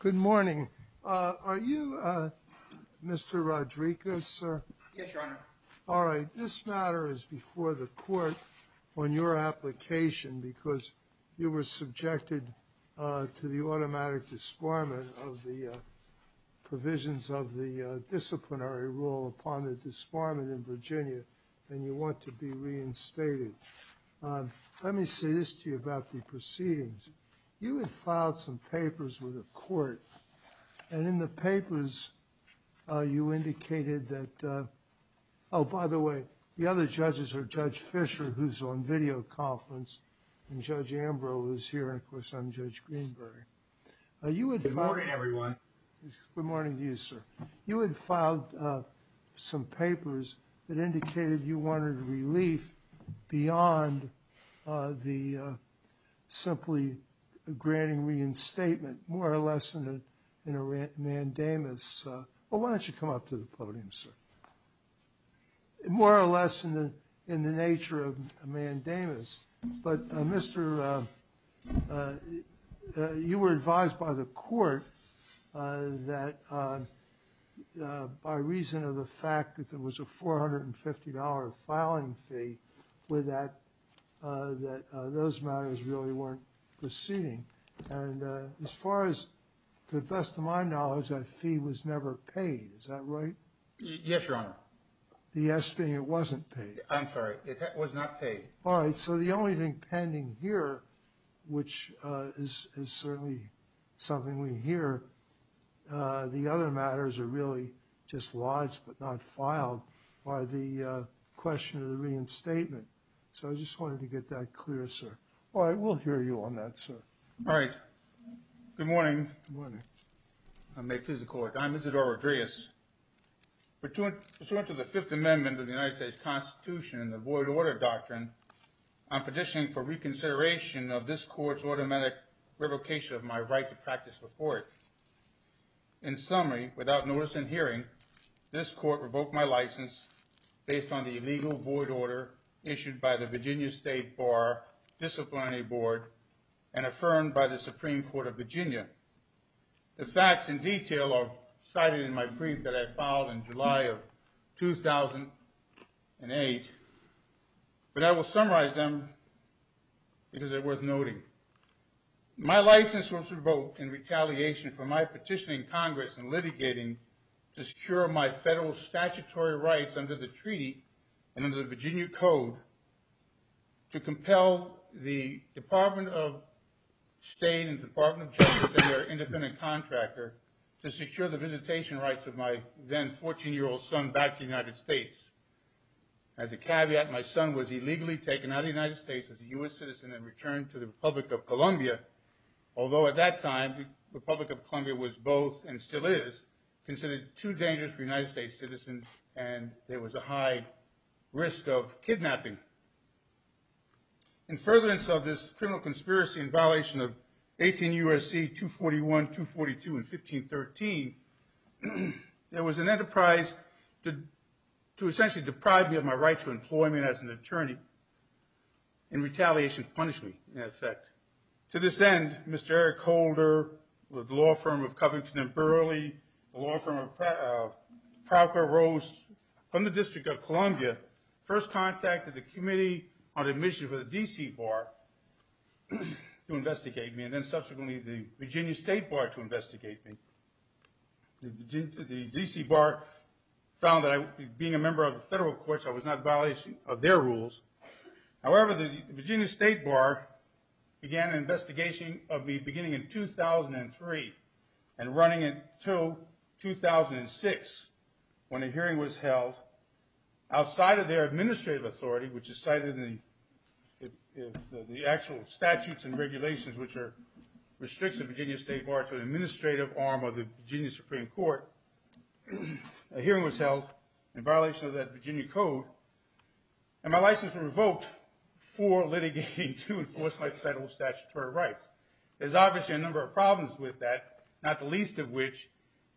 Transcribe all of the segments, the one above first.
Good morning. Are you Mr. Rodriguez, sir? Yes, Your Honor. All right. This matter is before the court on your application because you were subjected to the automatic disbarment of the provisions of the disciplinary rule upon the disbarment in Virginia, and you want to be reinstated. Let me say this to you about the proceedings. You had filed some papers with the court, and in the papers, you indicated that, oh, by the way, the other judges are Judge Fisher, who's on video conference, and Judge Ambrose is here, and of course, I'm Judge Greenberg. Good morning, everyone. Good morning to you, sir. You had filed some papers that indicated you wanted relief beyond the simply granting reinstatement, more or less in a mandamus. Why don't you come up to the podium, sir? More or less in the nature of a mandamus. But, Mr., you were advised by the court that by reason of the fact that there was a $450 filing fee with that, that those matters really weren't proceeding. And as far as, to the best of my knowledge, that fee was never paid. Is that right? Yes, Your Honor. The yes being it wasn't paid. I'm sorry. It was not paid. All right. So the only thing pending here, which is certainly something we hear, the other matters are really just lodged but not filed by the question of the reinstatement. So I just wanted to get that clear, sir. All right. We'll hear you on that, sir. All right. Good morning. Good morning. I may please the court. I'm Isidore Rodriguez. Pursuant to the Fifth Amendment of the United States Constitution, the Void Order Doctrine, I'm petitioning for reconsideration of this court's automatic revocation of my right to practice before it. In summary, without notice and hearing, this court revoked my license based on the illegal void order issued by the Virginia State Bar Disciplinary Board and affirmed by the Supreme Court of Virginia. The facts in detail are cited in my brief that I filed in July of 2008, but I will summarize them because they're worth noting. My license was revoked in retaliation for my petitioning Congress and litigating to secure my federal statutory rights under the treaty and under the Virginia Code to compel the Department of State and Department of Justice and their independent contractor to secure the visitation rights of my then 14-year-old son back to the United States. As a caveat, my son was illegally taken out of the United States as a U.S. citizen and returned to the Republic of Columbia, although at that time the Republic of Columbia was both and still is considered too dangerous for United States citizens and there was a high risk of kidnapping. In furtherance of this criminal conspiracy in violation of 18 U.S.C. 241, 242, and 1513, there was an enterprise to essentially deprive me of my right to employment as an attorney in retaliation to punish me, in effect. To this end, Mr. Eric Holder, the law firm of Covington and Burley, the law firm of Procker Rose, from the District of Columbia, first contacted the Committee on Admission for the D.C. Bar to investigate me and then subsequently the Virginia State Bar to investigate me. The D.C. Bar found that I, being a member of the federal courts, I was not a violation of their rules. However, the Virginia State Bar began an investigation of me beginning in 2003 and running until 2006 when a hearing was held outside of their administrative authority, which is cited in the actual statutes and regulations which restricts the Virginia State Bar to an administrative arm of the Virginia Supreme Court. A hearing was held in violation of that Virginia code and my license was revoked for litigating to enforce my federal statutory rights. There's obviously a number of problems with that, not the least of which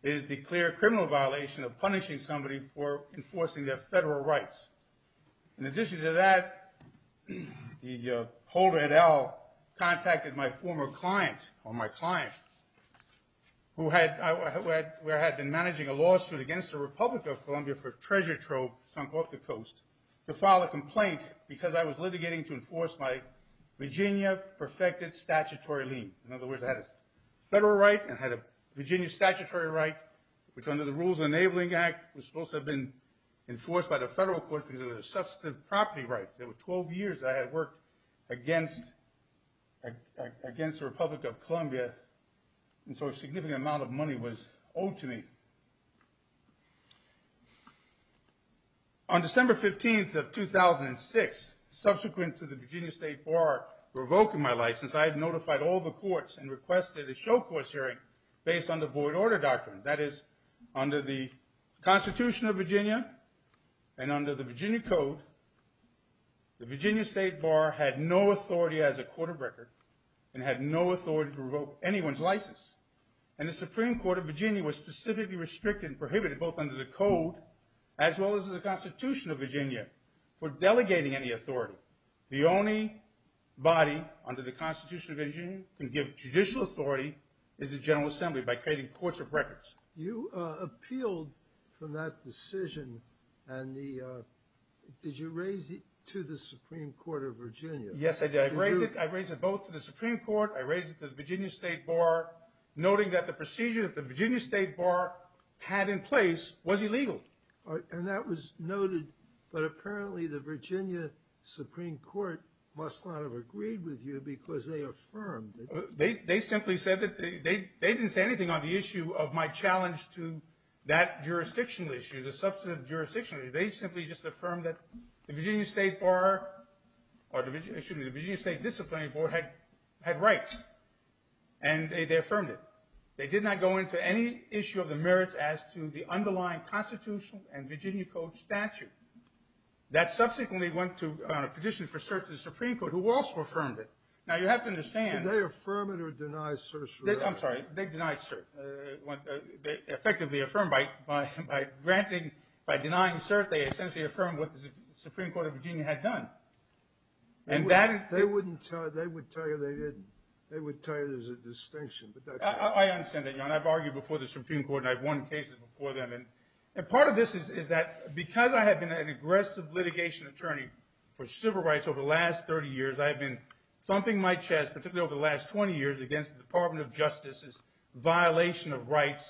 is the clear criminal violation of punishing somebody for enforcing their federal rights. In addition to that, the Holder, et al., contacted my former client, or my client, who had been managing a lawsuit against the Republic of Columbia for treasure trove sunk off the coast to file a complaint because I was litigating to enforce my Virginia-perfected statutory lien. In other words, I had a federal right and I had a Virginia statutory right, which under the Rules Enabling Act was supposed to have been enforced by the federal court because it was a substantive property right. There were 12 years I had worked against the Republic of Columbia, and so a significant amount of money was owed to me. On December 15th of 2006, subsequent to the Virginia State Bar revoking my license, I had notified all the courts and requested a show-courts hearing based on the void order doctrine. That is, under the Constitution of Virginia and under the Virginia code, the Virginia State Bar had no authority as a court of record and had no authority to revoke anyone's license. And the Supreme Court of Virginia was specifically restricted and prohibited, both under the code as well as the Constitution of Virginia, for delegating any authority. The only body under the Constitution of Virginia that can give judicial authority is the General Assembly by creating courts of records. You appealed from that decision, and did you raise it to the Supreme Court of Virginia? Yes, I did. I raised it both to the Supreme Court, I raised it to the Virginia State Bar, noting that the procedure that the Virginia State Bar had in place was illegal. And that was noted, but apparently the Virginia Supreme Court must not have agreed with you because they affirmed it. They simply said that they didn't say anything on the issue of my challenge to that jurisdictional issue, the substantive jurisdiction. They simply just affirmed that the Virginia State Bar, or excuse me, the Virginia State Disciplinary Board had rights. And they affirmed it. They did not go into any issue of the merits as to the underlying constitutional and Virginia code statute. That subsequently went to a petition for cert to the Supreme Court, who also affirmed it. Now you have to understand... Did they affirm it or deny cert? I'm sorry, they denied cert. They effectively affirmed by denying cert, they essentially affirmed what the Supreme Court of Virginia had done. They would tell you they didn't. They would tell you there's a distinction. I understand that, Your Honor. I've argued before the Supreme Court, and I've won cases before them. And part of this is that because I have been an aggressive litigation attorney for civil rights over the last 30 years, I have been thumping my chest, particularly over the last 20 years, against the Department of Justice's violation of rights,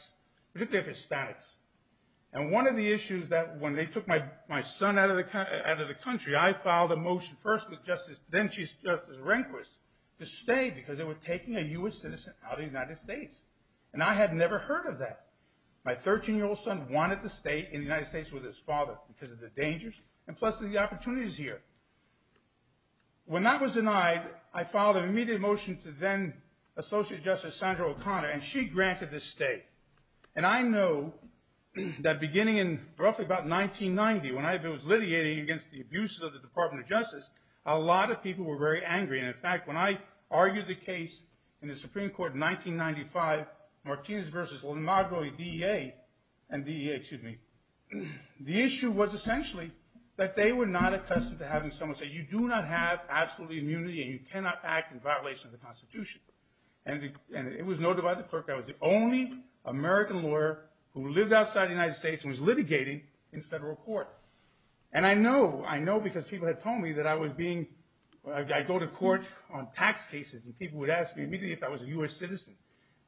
particularly of Hispanics. And one of the issues that when they took my son out of the country, I filed a motion first with Justice, then Justice Rehnquist, to stay because they were taking a U.S. citizen out of the United States. And I had never heard of that. My 13-year-old son wanted to stay in the United States with his father because of the dangers and plus the opportunities here. When that was denied, I filed an immediate motion to then-Associate Justice Sandra O'Connor, and she granted the stay. And I know that beginning in roughly about 1990, when I was litigating against the abuses of the Department of Justice, a lot of people were very angry. And in fact, when I argued the case in the Supreme Court in 1995, Martinez v. Leonardo and DEA, excuse me, the issue was essentially that they were not accustomed to having someone say, you do not have absolute immunity and you cannot act in violation of the Constitution. And it was noted by the clerk I was the only American lawyer who lived outside the United States and was litigating in federal court. And I know, I know because people had told me that I was being, I go to court on tax cases, and people would ask me immediately if I was a U.S. citizen.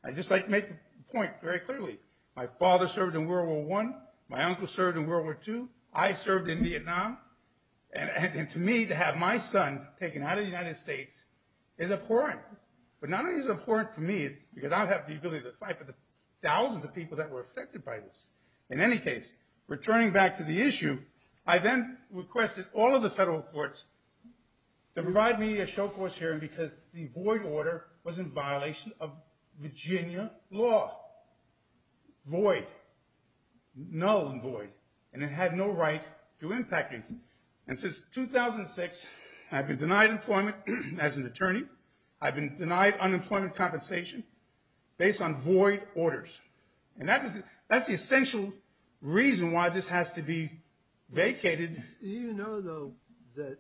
I'd just like to make the point very clearly. My father served in World War I. My uncle served in World War II. I served in Vietnam. And to me, to have my son taken out of the United States is abhorrent. But not only is it abhorrent to me, because I don't have the ability to fight, but the thousands of people that were affected by this. In any case, returning back to the issue, I then requested all of the federal courts to provide me a show-course hearing because the void order was in violation of Virginia law. Void. Null and void. And it had no right to impact me. And since 2006, I've been denied employment as an attorney. I've been denied unemployment compensation based on void orders. And that's the essential reason why this has to be vacated. Do you know, though, that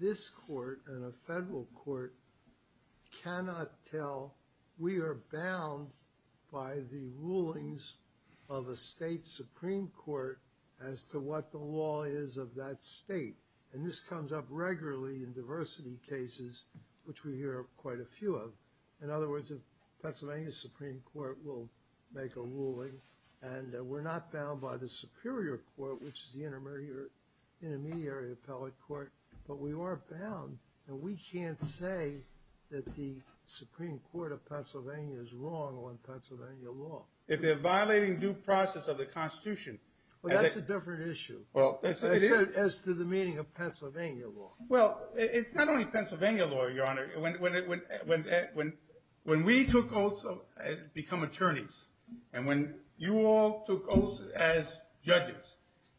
this court and a federal court cannot tell, we are bound by the rulings of a state Supreme Court as to what the law is of that state. And this comes up regularly in diversity cases, which we hear quite a few of. In other words, the Pennsylvania Supreme Court will make a ruling, and we're not bound by the Superior Court, which is the intermediary appellate court. But we are bound. And we can't say that the Supreme Court of Pennsylvania is wrong on Pennsylvania law. If they're violating due process of the Constitution. Well, that's a different issue. As to the meaning of Pennsylvania law. Well, it's not only Pennsylvania law, Your Honor. When we took oaths to become attorneys, and when you all took oaths as judges,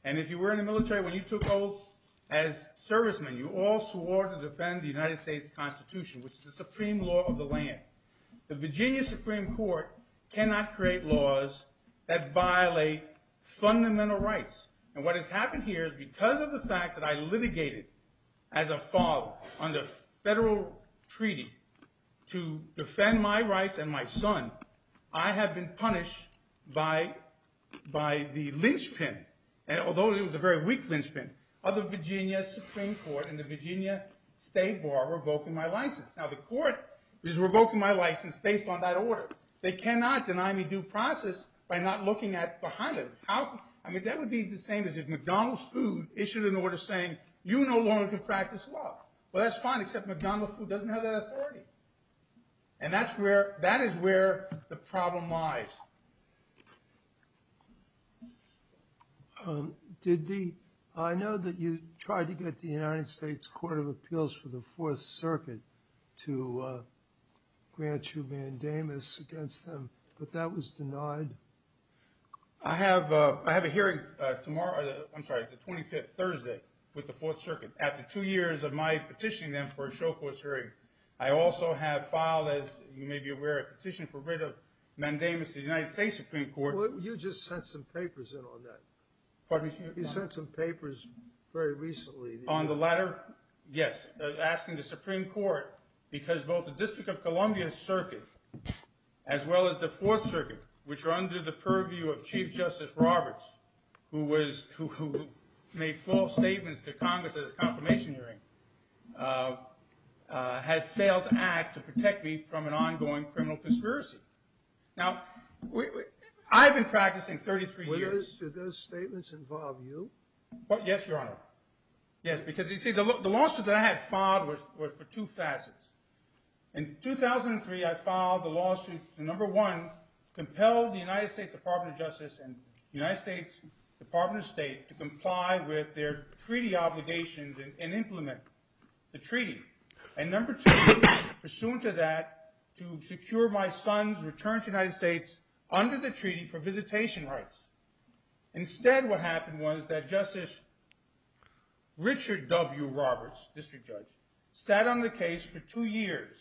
and if you were in the military, when you took oaths as servicemen, you all swore to defend the United States Constitution, which is the supreme law of the land. The Virginia Supreme Court cannot create laws that violate fundamental rights. And what has happened here is because of the fact that I litigated as a father under federal treaty to defend my rights and my son, I have been punished by the lynchpin, although it was a very weak lynchpin, of the Virginia Supreme Court and the Virginia State Bar revoking my license. Now, the court is revoking my license based on that order. They cannot deny me due process by not looking at behind it. I mean, that would be the same as if McDonald's Food issued an order saying, you no longer can practice law. Well, that's fine, except McDonald's Food doesn't have that authority. And that is where the problem lies. I know that you tried to get the United States Court of Appeals for the Fourth Circuit to grant you mandamus against them, but that was denied? I have a hearing tomorrow, I'm sorry, the 25th, Thursday, with the Fourth Circuit. After two years of my petitioning them for a show court hearing, I also have filed, as you may be aware, a petition for writ of mandamus to the United States Supreme Court. Well, you just sent some papers in on that. Pardon me, Your Honor? You sent some papers very recently. On the latter, yes, asking the Supreme Court, because both the District of Columbia Circuit as well as the Fourth Circuit, under the purview of Chief Justice Roberts, who made false statements to Congress at his confirmation hearing, has failed to act to protect me from an ongoing criminal conspiracy. Now, I've been practicing 33 years. Did those statements involve you? Yes, Your Honor. Yes, because you see, the lawsuit that I had filed was for two facets. In 2003, I filed the lawsuit to, number one, compel the United States Department of Justice and the United States Department of State to comply with their treaty obligations and implement the treaty. And number two, pursuant to that, to secure my son's return to the United States under the treaty for visitation rights. Instead, what happened was that Justice Richard W. Roberts, District Judge, sat on the case for two years,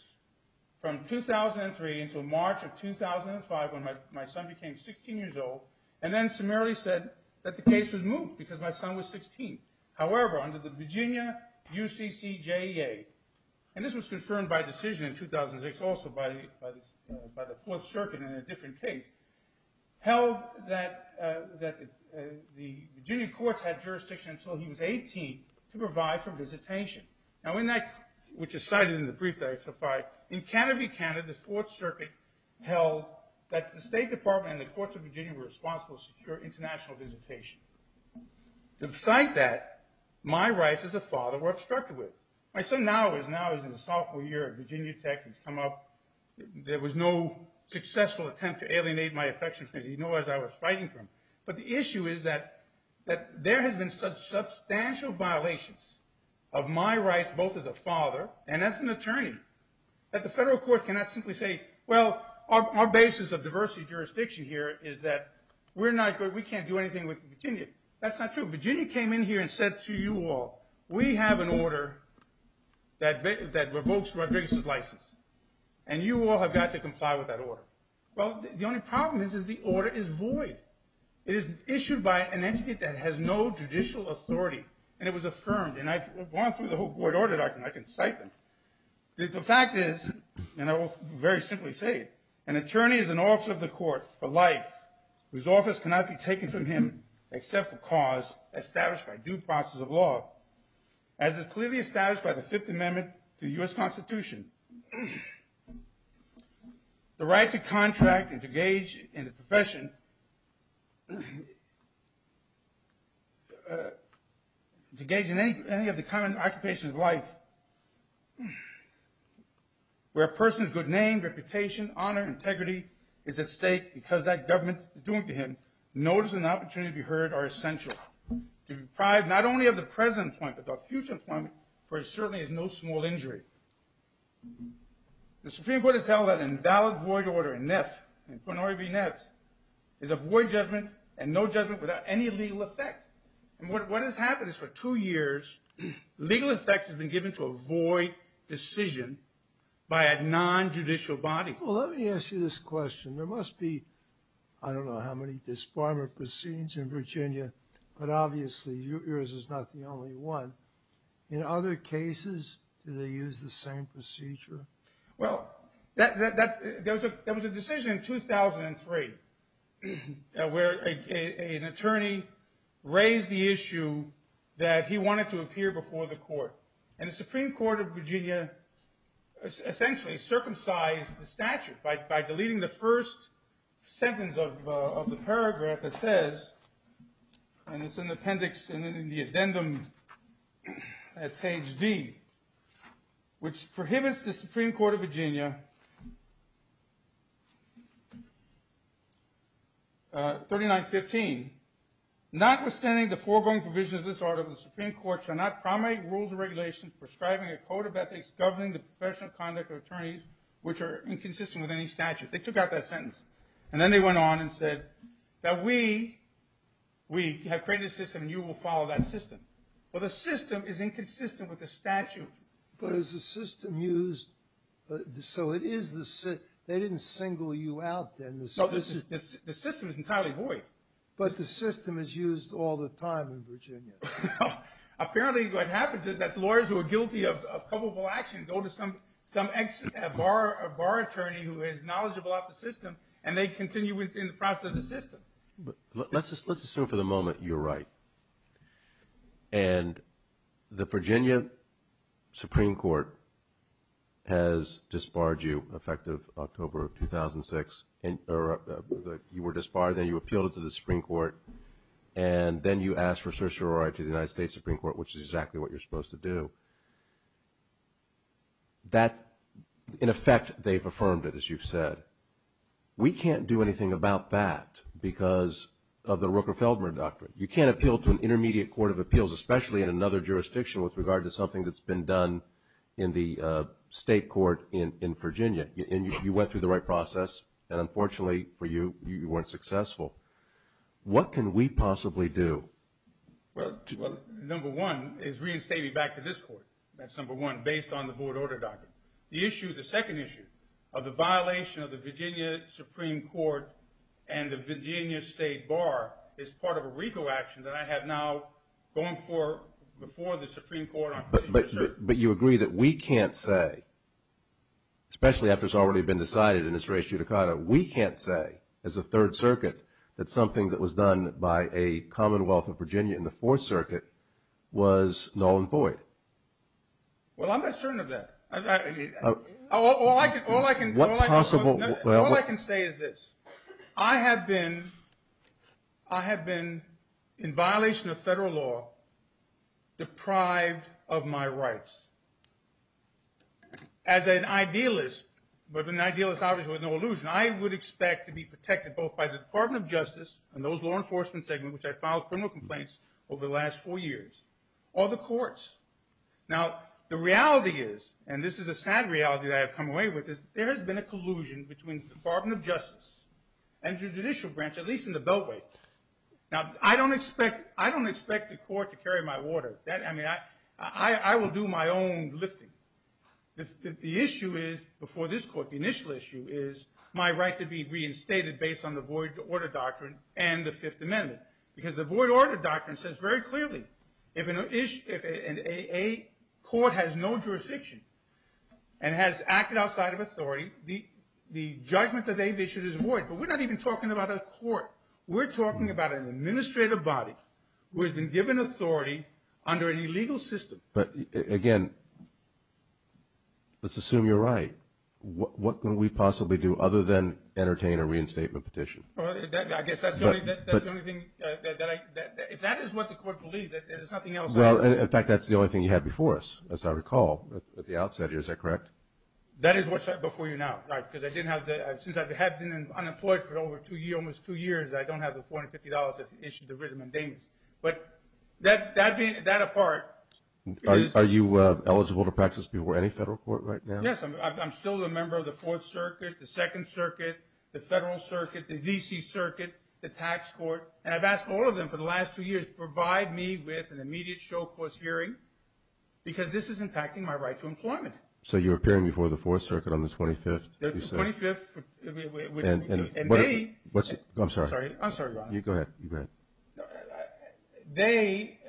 from 2003 until March of 2005, when my son became 16 years old, and then summarily said that the case was moved because my son was 16. However, under the Virginia UCCJEA, and this was confirmed by decision in 2006, also by the Fourth Circuit in a different case, held that the Virginia courts had jurisdiction until he was 18 to provide for visitation. In fact, which is cited in the brief that I've supplied, in Canterbury, Canada, the Fourth Circuit held that the State Department and the courts of Virginia were responsible for secure international visitation. To cite that, my rights as a father were obstructed with. My son now is in his sophomore year at Virginia Tech. He's come up. There was no successful attempt to alienate my affection because he knew I was fighting for him. But the issue is that there has been substantial violations of my rights, both as a father and as an attorney, that the federal court cannot simply say, well, our basis of diversity of jurisdiction here is that we can't do anything with Virginia. That's not true. Virginia came in here and said to you all, we have an order that revokes Rodriguez's license, and you all have got to comply with that order. Well, the only problem is that the order is void. It is issued by an entity that has no judicial authority, and it was affirmed. And I've gone through the whole void order, and I can cite them. The fact is, and I will very simply say it, an attorney is an officer of the court for life whose office cannot be taken from him except for cause established by due process of law, as is clearly established by the Fifth Amendment to the U.S. Constitution. The right to contract and to engage in the profession and to engage in any of the common occupations of life where a person's good name, reputation, honor, integrity is at stake because that government is doing it to him, notice and opportunity to be heard are essential to be deprived not only of the present employment but the future employment, for it certainly is no small injury. The Supreme Court has held that an invalid void order, NIF, is a void judgment and no judgment without any legal effect. And what has happened is for two years, legal effect has been given to a void decision by a non-judicial body. Well, let me ask you this question. There must be, I don't know how many disbarment proceedings in Virginia, but obviously yours is not the only one. In other cases, do they use the same procedure? Well, there was a decision in 2003 where an attorney raised the issue that he wanted to appear before the court. And the Supreme Court of Virginia essentially circumcised the statute by deleting the first sentence of the paragraph that says, and it's in the appendix and in the addendum at page D, which prohibits the Supreme Court of Virginia, 3915, notwithstanding the foregoing provisions of this article, the Supreme Court shall not promulgate rules and regulations prescribing a code of ethics governing the professional conduct of attorneys which are inconsistent with any statute. They took out that sentence. And then they went on and said that we have created a system and you will follow that system. But is the system used, so it is the, they didn't single you out then. No, the system is entirely void. But the system is used all the time in Virginia. No, apparently what happens is that lawyers who are guilty of culpable action go to some bar attorney who is knowledgeable about the system and they continue within the process of the system. Let's assume for the moment you're right. And the Virginia Supreme Court has disbarred you effective October of 2006. You were disbarred, then you appealed it to the Supreme Court and then you asked for certiorari to the United States Supreme Court, which is exactly what you're supposed to do. That, in effect, they've affirmed it, as you've said. We can't do anything about that because of the Rooker-Feldman Doctrine. You can't appeal to an intermediate court of appeals, especially in another jurisdiction with regard to something that's been done in the state court in Virginia. And you went through the right process and unfortunately for you, you weren't successful. What can we possibly do? Well, number one is reinstating me back to this court. That's number one, based on the board order document. The issue, the second issue of the violation of the Virginia Supreme Court and the Virginia State Bar is part of a RICO action that I have now going before the Supreme Court. But you agree that we can't say, especially after it's already been decided in this res judicata, we can't say as a Third Circuit that something that was done by a Commonwealth of Virginia in the Fourth Circuit was null and void? Well, I'm not certain of that. All I can say is this. I have been in violation of federal law deprived of my rights. As an idealist, but an idealist obviously with no illusion, I would expect to be protected both by the Department of Justice and those law enforcement segments which I filed criminal complaints over the last four years, or the courts. Now, the reality is, and this is a sad reality as a judicial branch, at least in the Beltway. Now, I don't expect the court to carry my order. I will do my own lifting. The issue is, before this court, the initial issue is my right to be reinstated based on the void order doctrine and the Fifth Amendment. Because the void order doctrine says very clearly if a court has no jurisdiction and has acted outside of authority, we're not even talking about a court. We're talking about an administrative body who has been given authority under an illegal system. But again, let's assume you're right. What can we possibly do other than entertain a reinstatement petition? I guess that's the only thing. If that is what the court believes, there's nothing else. In fact, that's the only thing you had before us, as I recall at the outset here. Is that correct? That is what's before you now. I've been in court for almost two years. I don't have the $450 that's issued to Rhythm and Damon. But that being that apart... Are you eligible to practice before any federal court right now? Yes, I'm still a member of the Fourth Circuit, the Second Circuit, the Federal Circuit, the D.C. Circuit, the Tax Court. And I've asked all of them for the last two years to provide me with an immediate show-course hearing because this is impacting my right to employment. So you're appearing before the Fourth Circuit on the 25th? The 25th. And they... I'm sorry. Go ahead. They,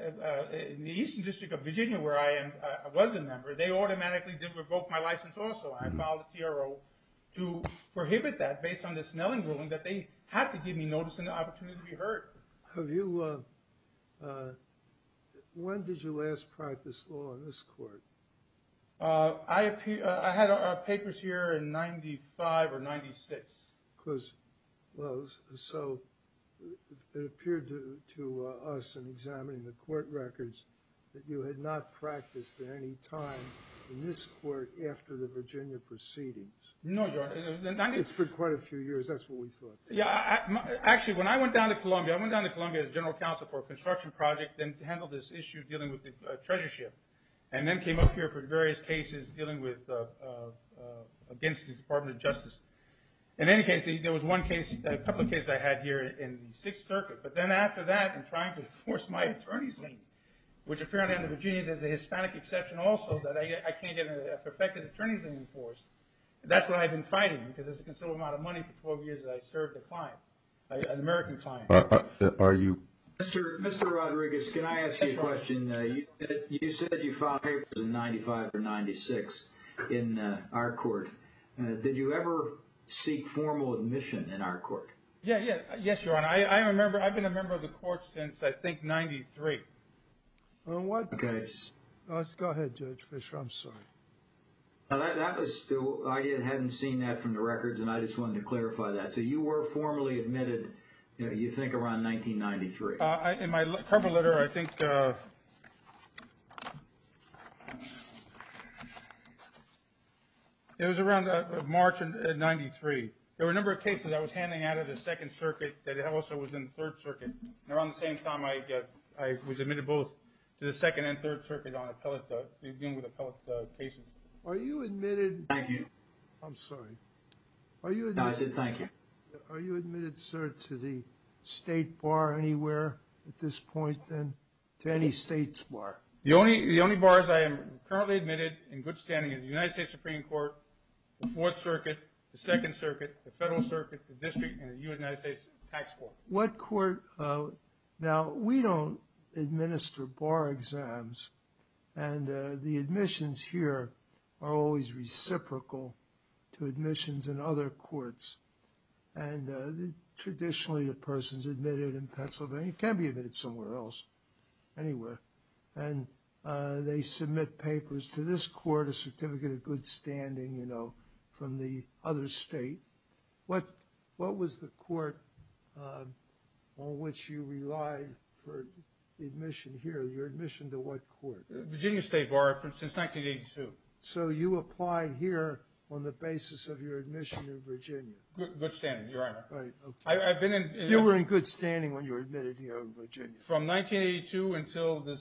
the Eastern District of Virginia, where I was a member, they automatically did revoke my license also. I filed a TRO to prohibit that based on this Snelling ruling that they had to give me notice and the opportunity to be heard. When did you practice law in this court? I had papers here in 95 or 96. Close. So it appeared to us in examining the court records that you had not practiced at any time in this court after the Virginia proceedings. No, Your Honor. It's been quite a few years. That's what we thought. Actually, when I went down to Columbia, I went down to Columbia as general counsel for a construction project and handled this issue dealing with the treasureship. And then came up here for various cases dealing with... against the Department of Justice. In any case, there was one case, a couple of cases I had here in the Sixth Circuit. But then after that in trying to enforce my attorney's name, which apparently under Virginia there's a Hispanic exception also that I can't get a perfected attorney's name enforced. That's what I've been fighting because it's a considerable amount of money for 12 years that I served a client, an American client. Thank you. Mr. Rodriguez, can I ask you a question? You said you filed papers in 95 or 96 in our court. Did you ever seek formal admission in our court? Yes, Your Honor. I've been a member of the court since I think 93. In what case? Go ahead, Judge Fisher. I'm sorry. I hadn't seen that from the records and I just wanted to clarify that. So you were formally admitted you think around 1993? In my cover letter I think it was around March of 93. There were a number of cases I was handling out of the Second Circuit that also was in the Third Circuit. Around the same time I was admitted both to the Second and Third Circuit on appellate cases. Are you admitted Thank you. I'm sorry. I said thank you. Are you admitted sir to the State Bar anywhere at this point than to any state's bar? The only bar is I am currently admitted in good standing in the United States Supreme Court the Fourth Circuit the Second Circuit the Federal Circuit the District and the United States Tax Court. Now we don't administer bar exams and the admissions here are always reciprocal to admissions in other courts and traditionally a person's admitted in Pennsylvania can be admitted somewhere else anywhere and they submit papers to this court a certificate of good standing you know from the other state. What what was the court on which you relied for admission here? Your admission to what court? Virginia State Bar since 1982. So you applied here on the basis of your admission to Virginia. Good standing Your Honor. You were in good standing when you were admitted here in Virginia. From 1982 until the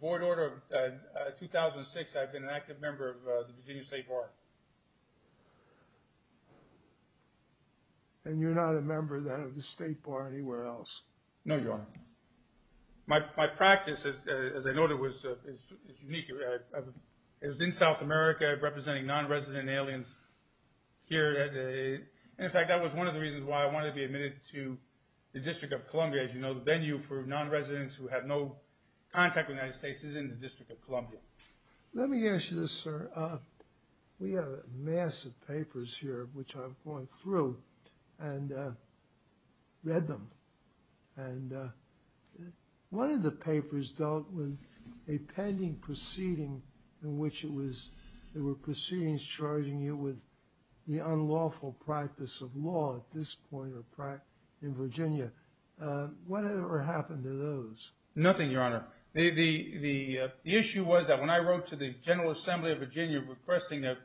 void order of 2006 I've been an active member of the Virginia State Bar. And you're not a member then of the State Bar anywhere else? No Your Honor. My practice as I noted was unique it was in South America representing non-resident aliens here in fact that was one of the reasons why I wanted to be admitted to the District of Columbia as you know the venue for non-residents who have no contact with the United States is in the District of Columbia. Let me ask you this sir. We have massive papers here which I've gone through and read them. And one of the papers dealt with a pending proceeding in which there were proceedings charging you with the unlawful practice of law at this point in Virginia. What ever happened to those? Nothing Your Honor. The issue was that when I wrote to the General Assembly of Virginia requesting an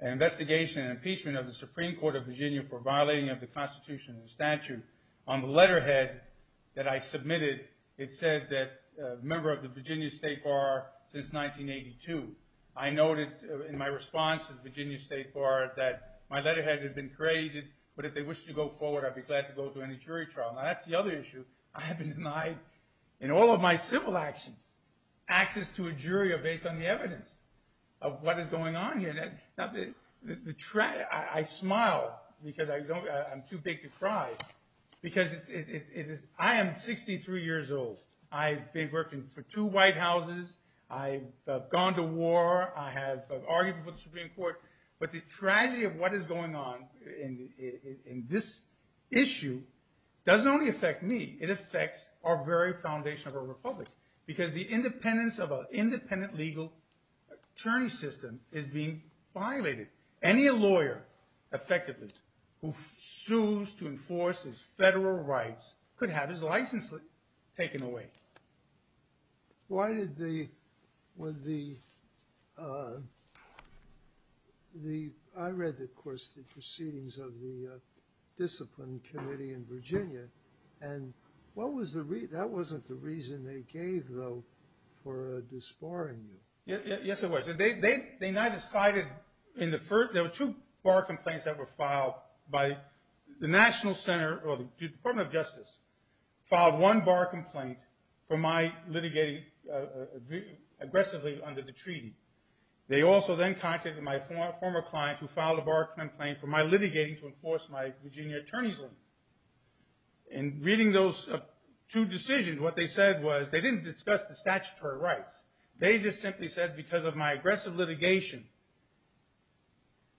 investigation and impeachment of the Supreme Court of Virginia for violating of the Constitution and Statute on the letterhead that I submitted it said that member of the Virginia State Bar since 1982 I noted in my response to the Virginia State Bar that my letterhead had been created but if they wish to go forward I'd be glad to go to any jury trial. Now that's the other issue. I have been denied in all of my civil actions access to a jury based on the evidence of what is going on here. I smile because I'm too big to cry because I am 63 years old. I've been working for two White Houses. I've gone to war. I have argued for the Supreme Court. But the tragedy of what is going on in this issue doesn't only affect me. It affects our very foundation of our republic because the independence of an independent legal attorney system is being violated. Any lawyer effectively who sues to enforce his federal rights could have his license taken away. Why did the I read of course the proceedings of the discipline committee in Virginia and what was the reason that wasn't the reason they gave though for despairing you? Yes it was. They now decided there were two bar complaints that were filed by the department of justice filed one bar complaint for my litigating aggressively under the treaty. They also then contacted my former client who filed a bar complaint for my litigating to enforce my Virginia attorney's limit. In reading those two decisions what they said was they didn't discuss the statutory rights they just simply said because of my aggressive litigation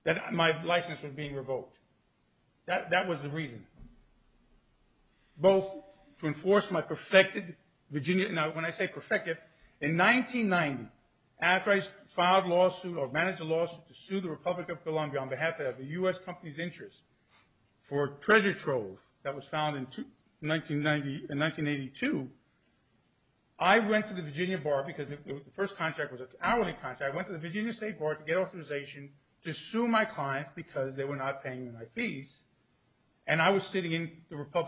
that my license was being revoked. That was the reason. Both to enforce my perfected Virginia when I say perfected in 1990 after I filed lawsuit or managed a lawsuit to sue the Republic of Columbia on behalf of the U.S. company's interest for treasure trove that was found in 1982. I went to the Virginia bar because the first contract was hourly contract I went to the Virginia state bar to get authorization to sue my client because they were not aware that my duty as a member of the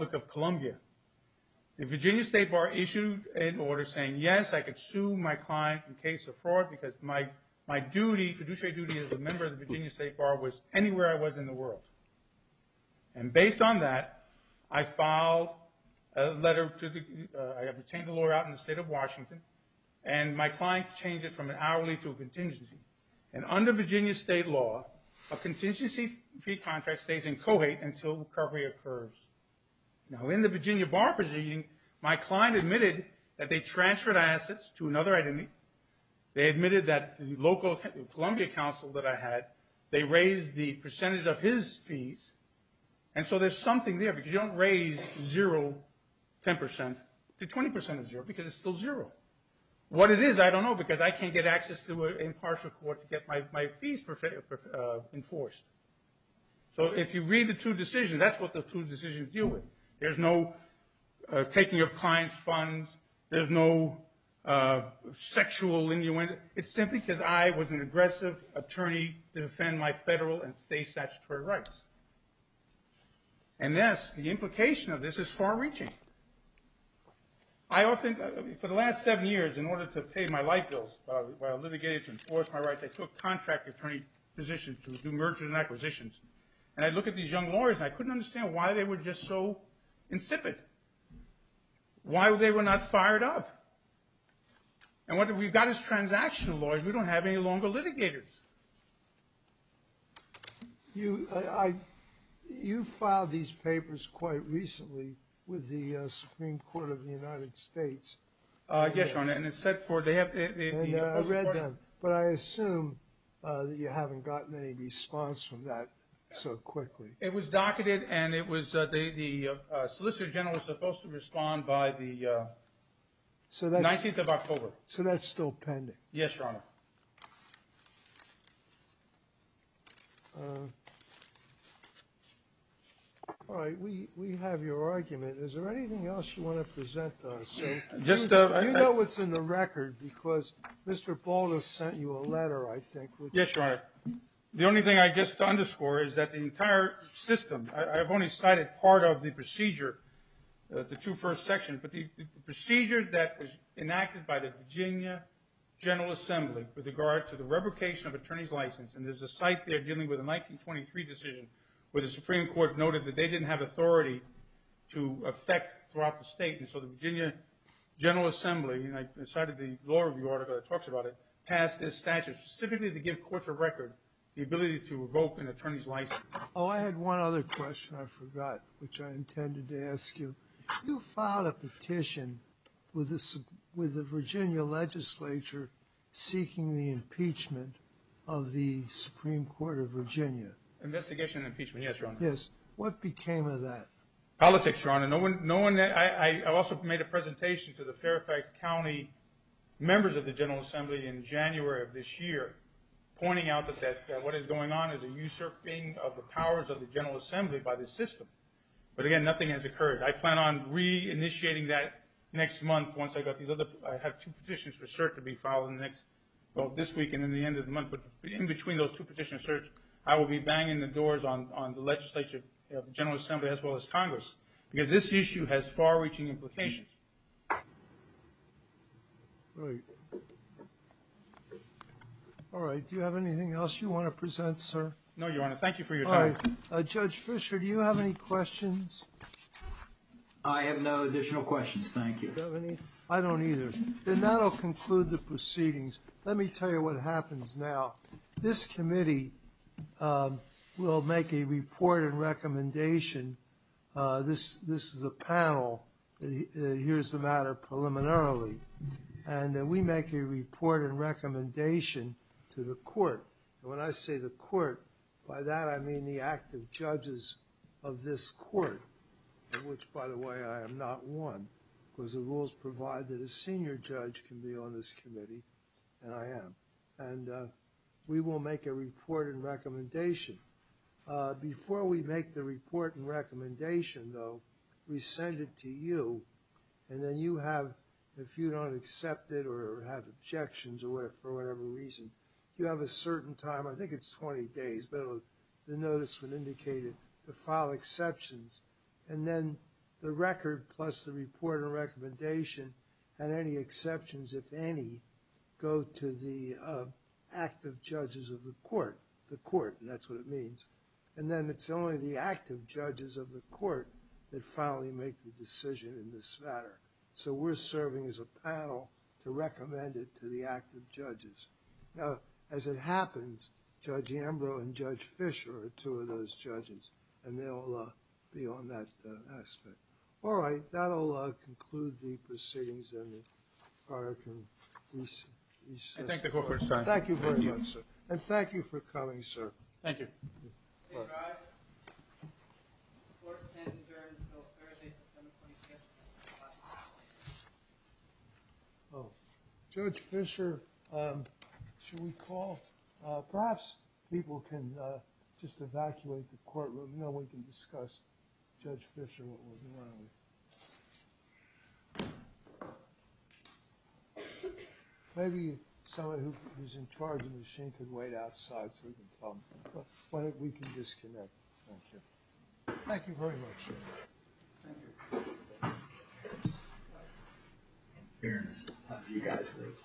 Virginia state bar was anywhere I was in the world. Based on that I filed a letter to the state of Washington and my client changed it from an hourly to a contingency. Under Virginia state law a local Columbia council raised the percentage of his fees. You don't raise 0% to 20% because it's still 0%. What it is I don't know because I can't get access to impartial court to get my fees enforced. If you read the two decisions there is no taking advantage of the federal and state statutory rights. The implication is far reaching. For the last seven years in order to pay my life bills I took contract attorney positions to do mergers and acquisitions and I couldn't understand why they were so insipid. Why they were not fired up. We've got this transaction law. We don't have any longer litigators. You filed these papers quite recently with the Supreme Court of the United States. I read them. I assume you haven't gotten any response from that so quickly. It was docketed and the solicitor general was supposed to respond by the 19th of October. So that's still pending? Yes, Your Honor. All right. We have your argument. Is there anything else you want to present? You know what's in the record because Mr. Baldus sent you a letter I think. Yes, Your Honor. The only thing I guess to underscore is that the entire system, I've only cited part of the procedure, the two first sections, but the procedure that was enacted by the Virginia General Assembly with regard to the revocation of attorney's license, and there's a site there dealing with a 1923 decision where the Supreme Court noted that they didn't have authority to affect throughout the state, and so the Virginia General Assembly, and I cited the law review article that talks about it, passed this statute specifically to give courts a record the ability to revoke an attorney's license. Oh, I had one other question I forgot which I intended to ask you. You filed a petition with the Virginia legislature seeking the impeachment of the Supreme Court of Virginia. Investigation impeachment, yes, Your Honor. Yes. What became of that? Politics, Your Honor. I also made a presentation to the Fairfax County members of the General Assembly in January of this year, pointing out that what is going on is a usurping of the powers of the General Assembly by the system. But again, nothing has occurred. I plan on reinitiating that next month. I have two petitions for cert to be filed this week and at the end of the month. In between those two petitions, I will bang the doors on the legislature of the General Assembly as well as Congress. This issue has far reaching implications. Do you have anything else you want to say? Thank you. Let me tell you what happens now. This committee will make a report and recommendation. This is a panel. Here is the matter preliminarily. We make a report and recommendation to the court. When I say the court, by that I mean the active judges of this court. Which, by the way, I am not one. The rules provide that a senior judge can be on this committee and I am. We will make a report and recommendation. Before we make the report and recommendation, we send it to you. If you don't accept it or have to file exceptions. The record plus the report and recommendation and any exceptions, if any, go to the active judges of the court. That is what it means. It is only the active judges of the court that finally make the decision in this matter. We are serving as a I think we will be on that. That will conclude the proceedings. Thank you for coming, sir. Thank you. Judge Fisher, should we call perhaps people can evacuate the courtroom. No one else. So we can discuss Judge Fisher. Maybe someone who is in charge of the machine can wait Thank you very much. Thank you. Thank you. Thank you. Thank you. Thank you. Thank you. Thank you.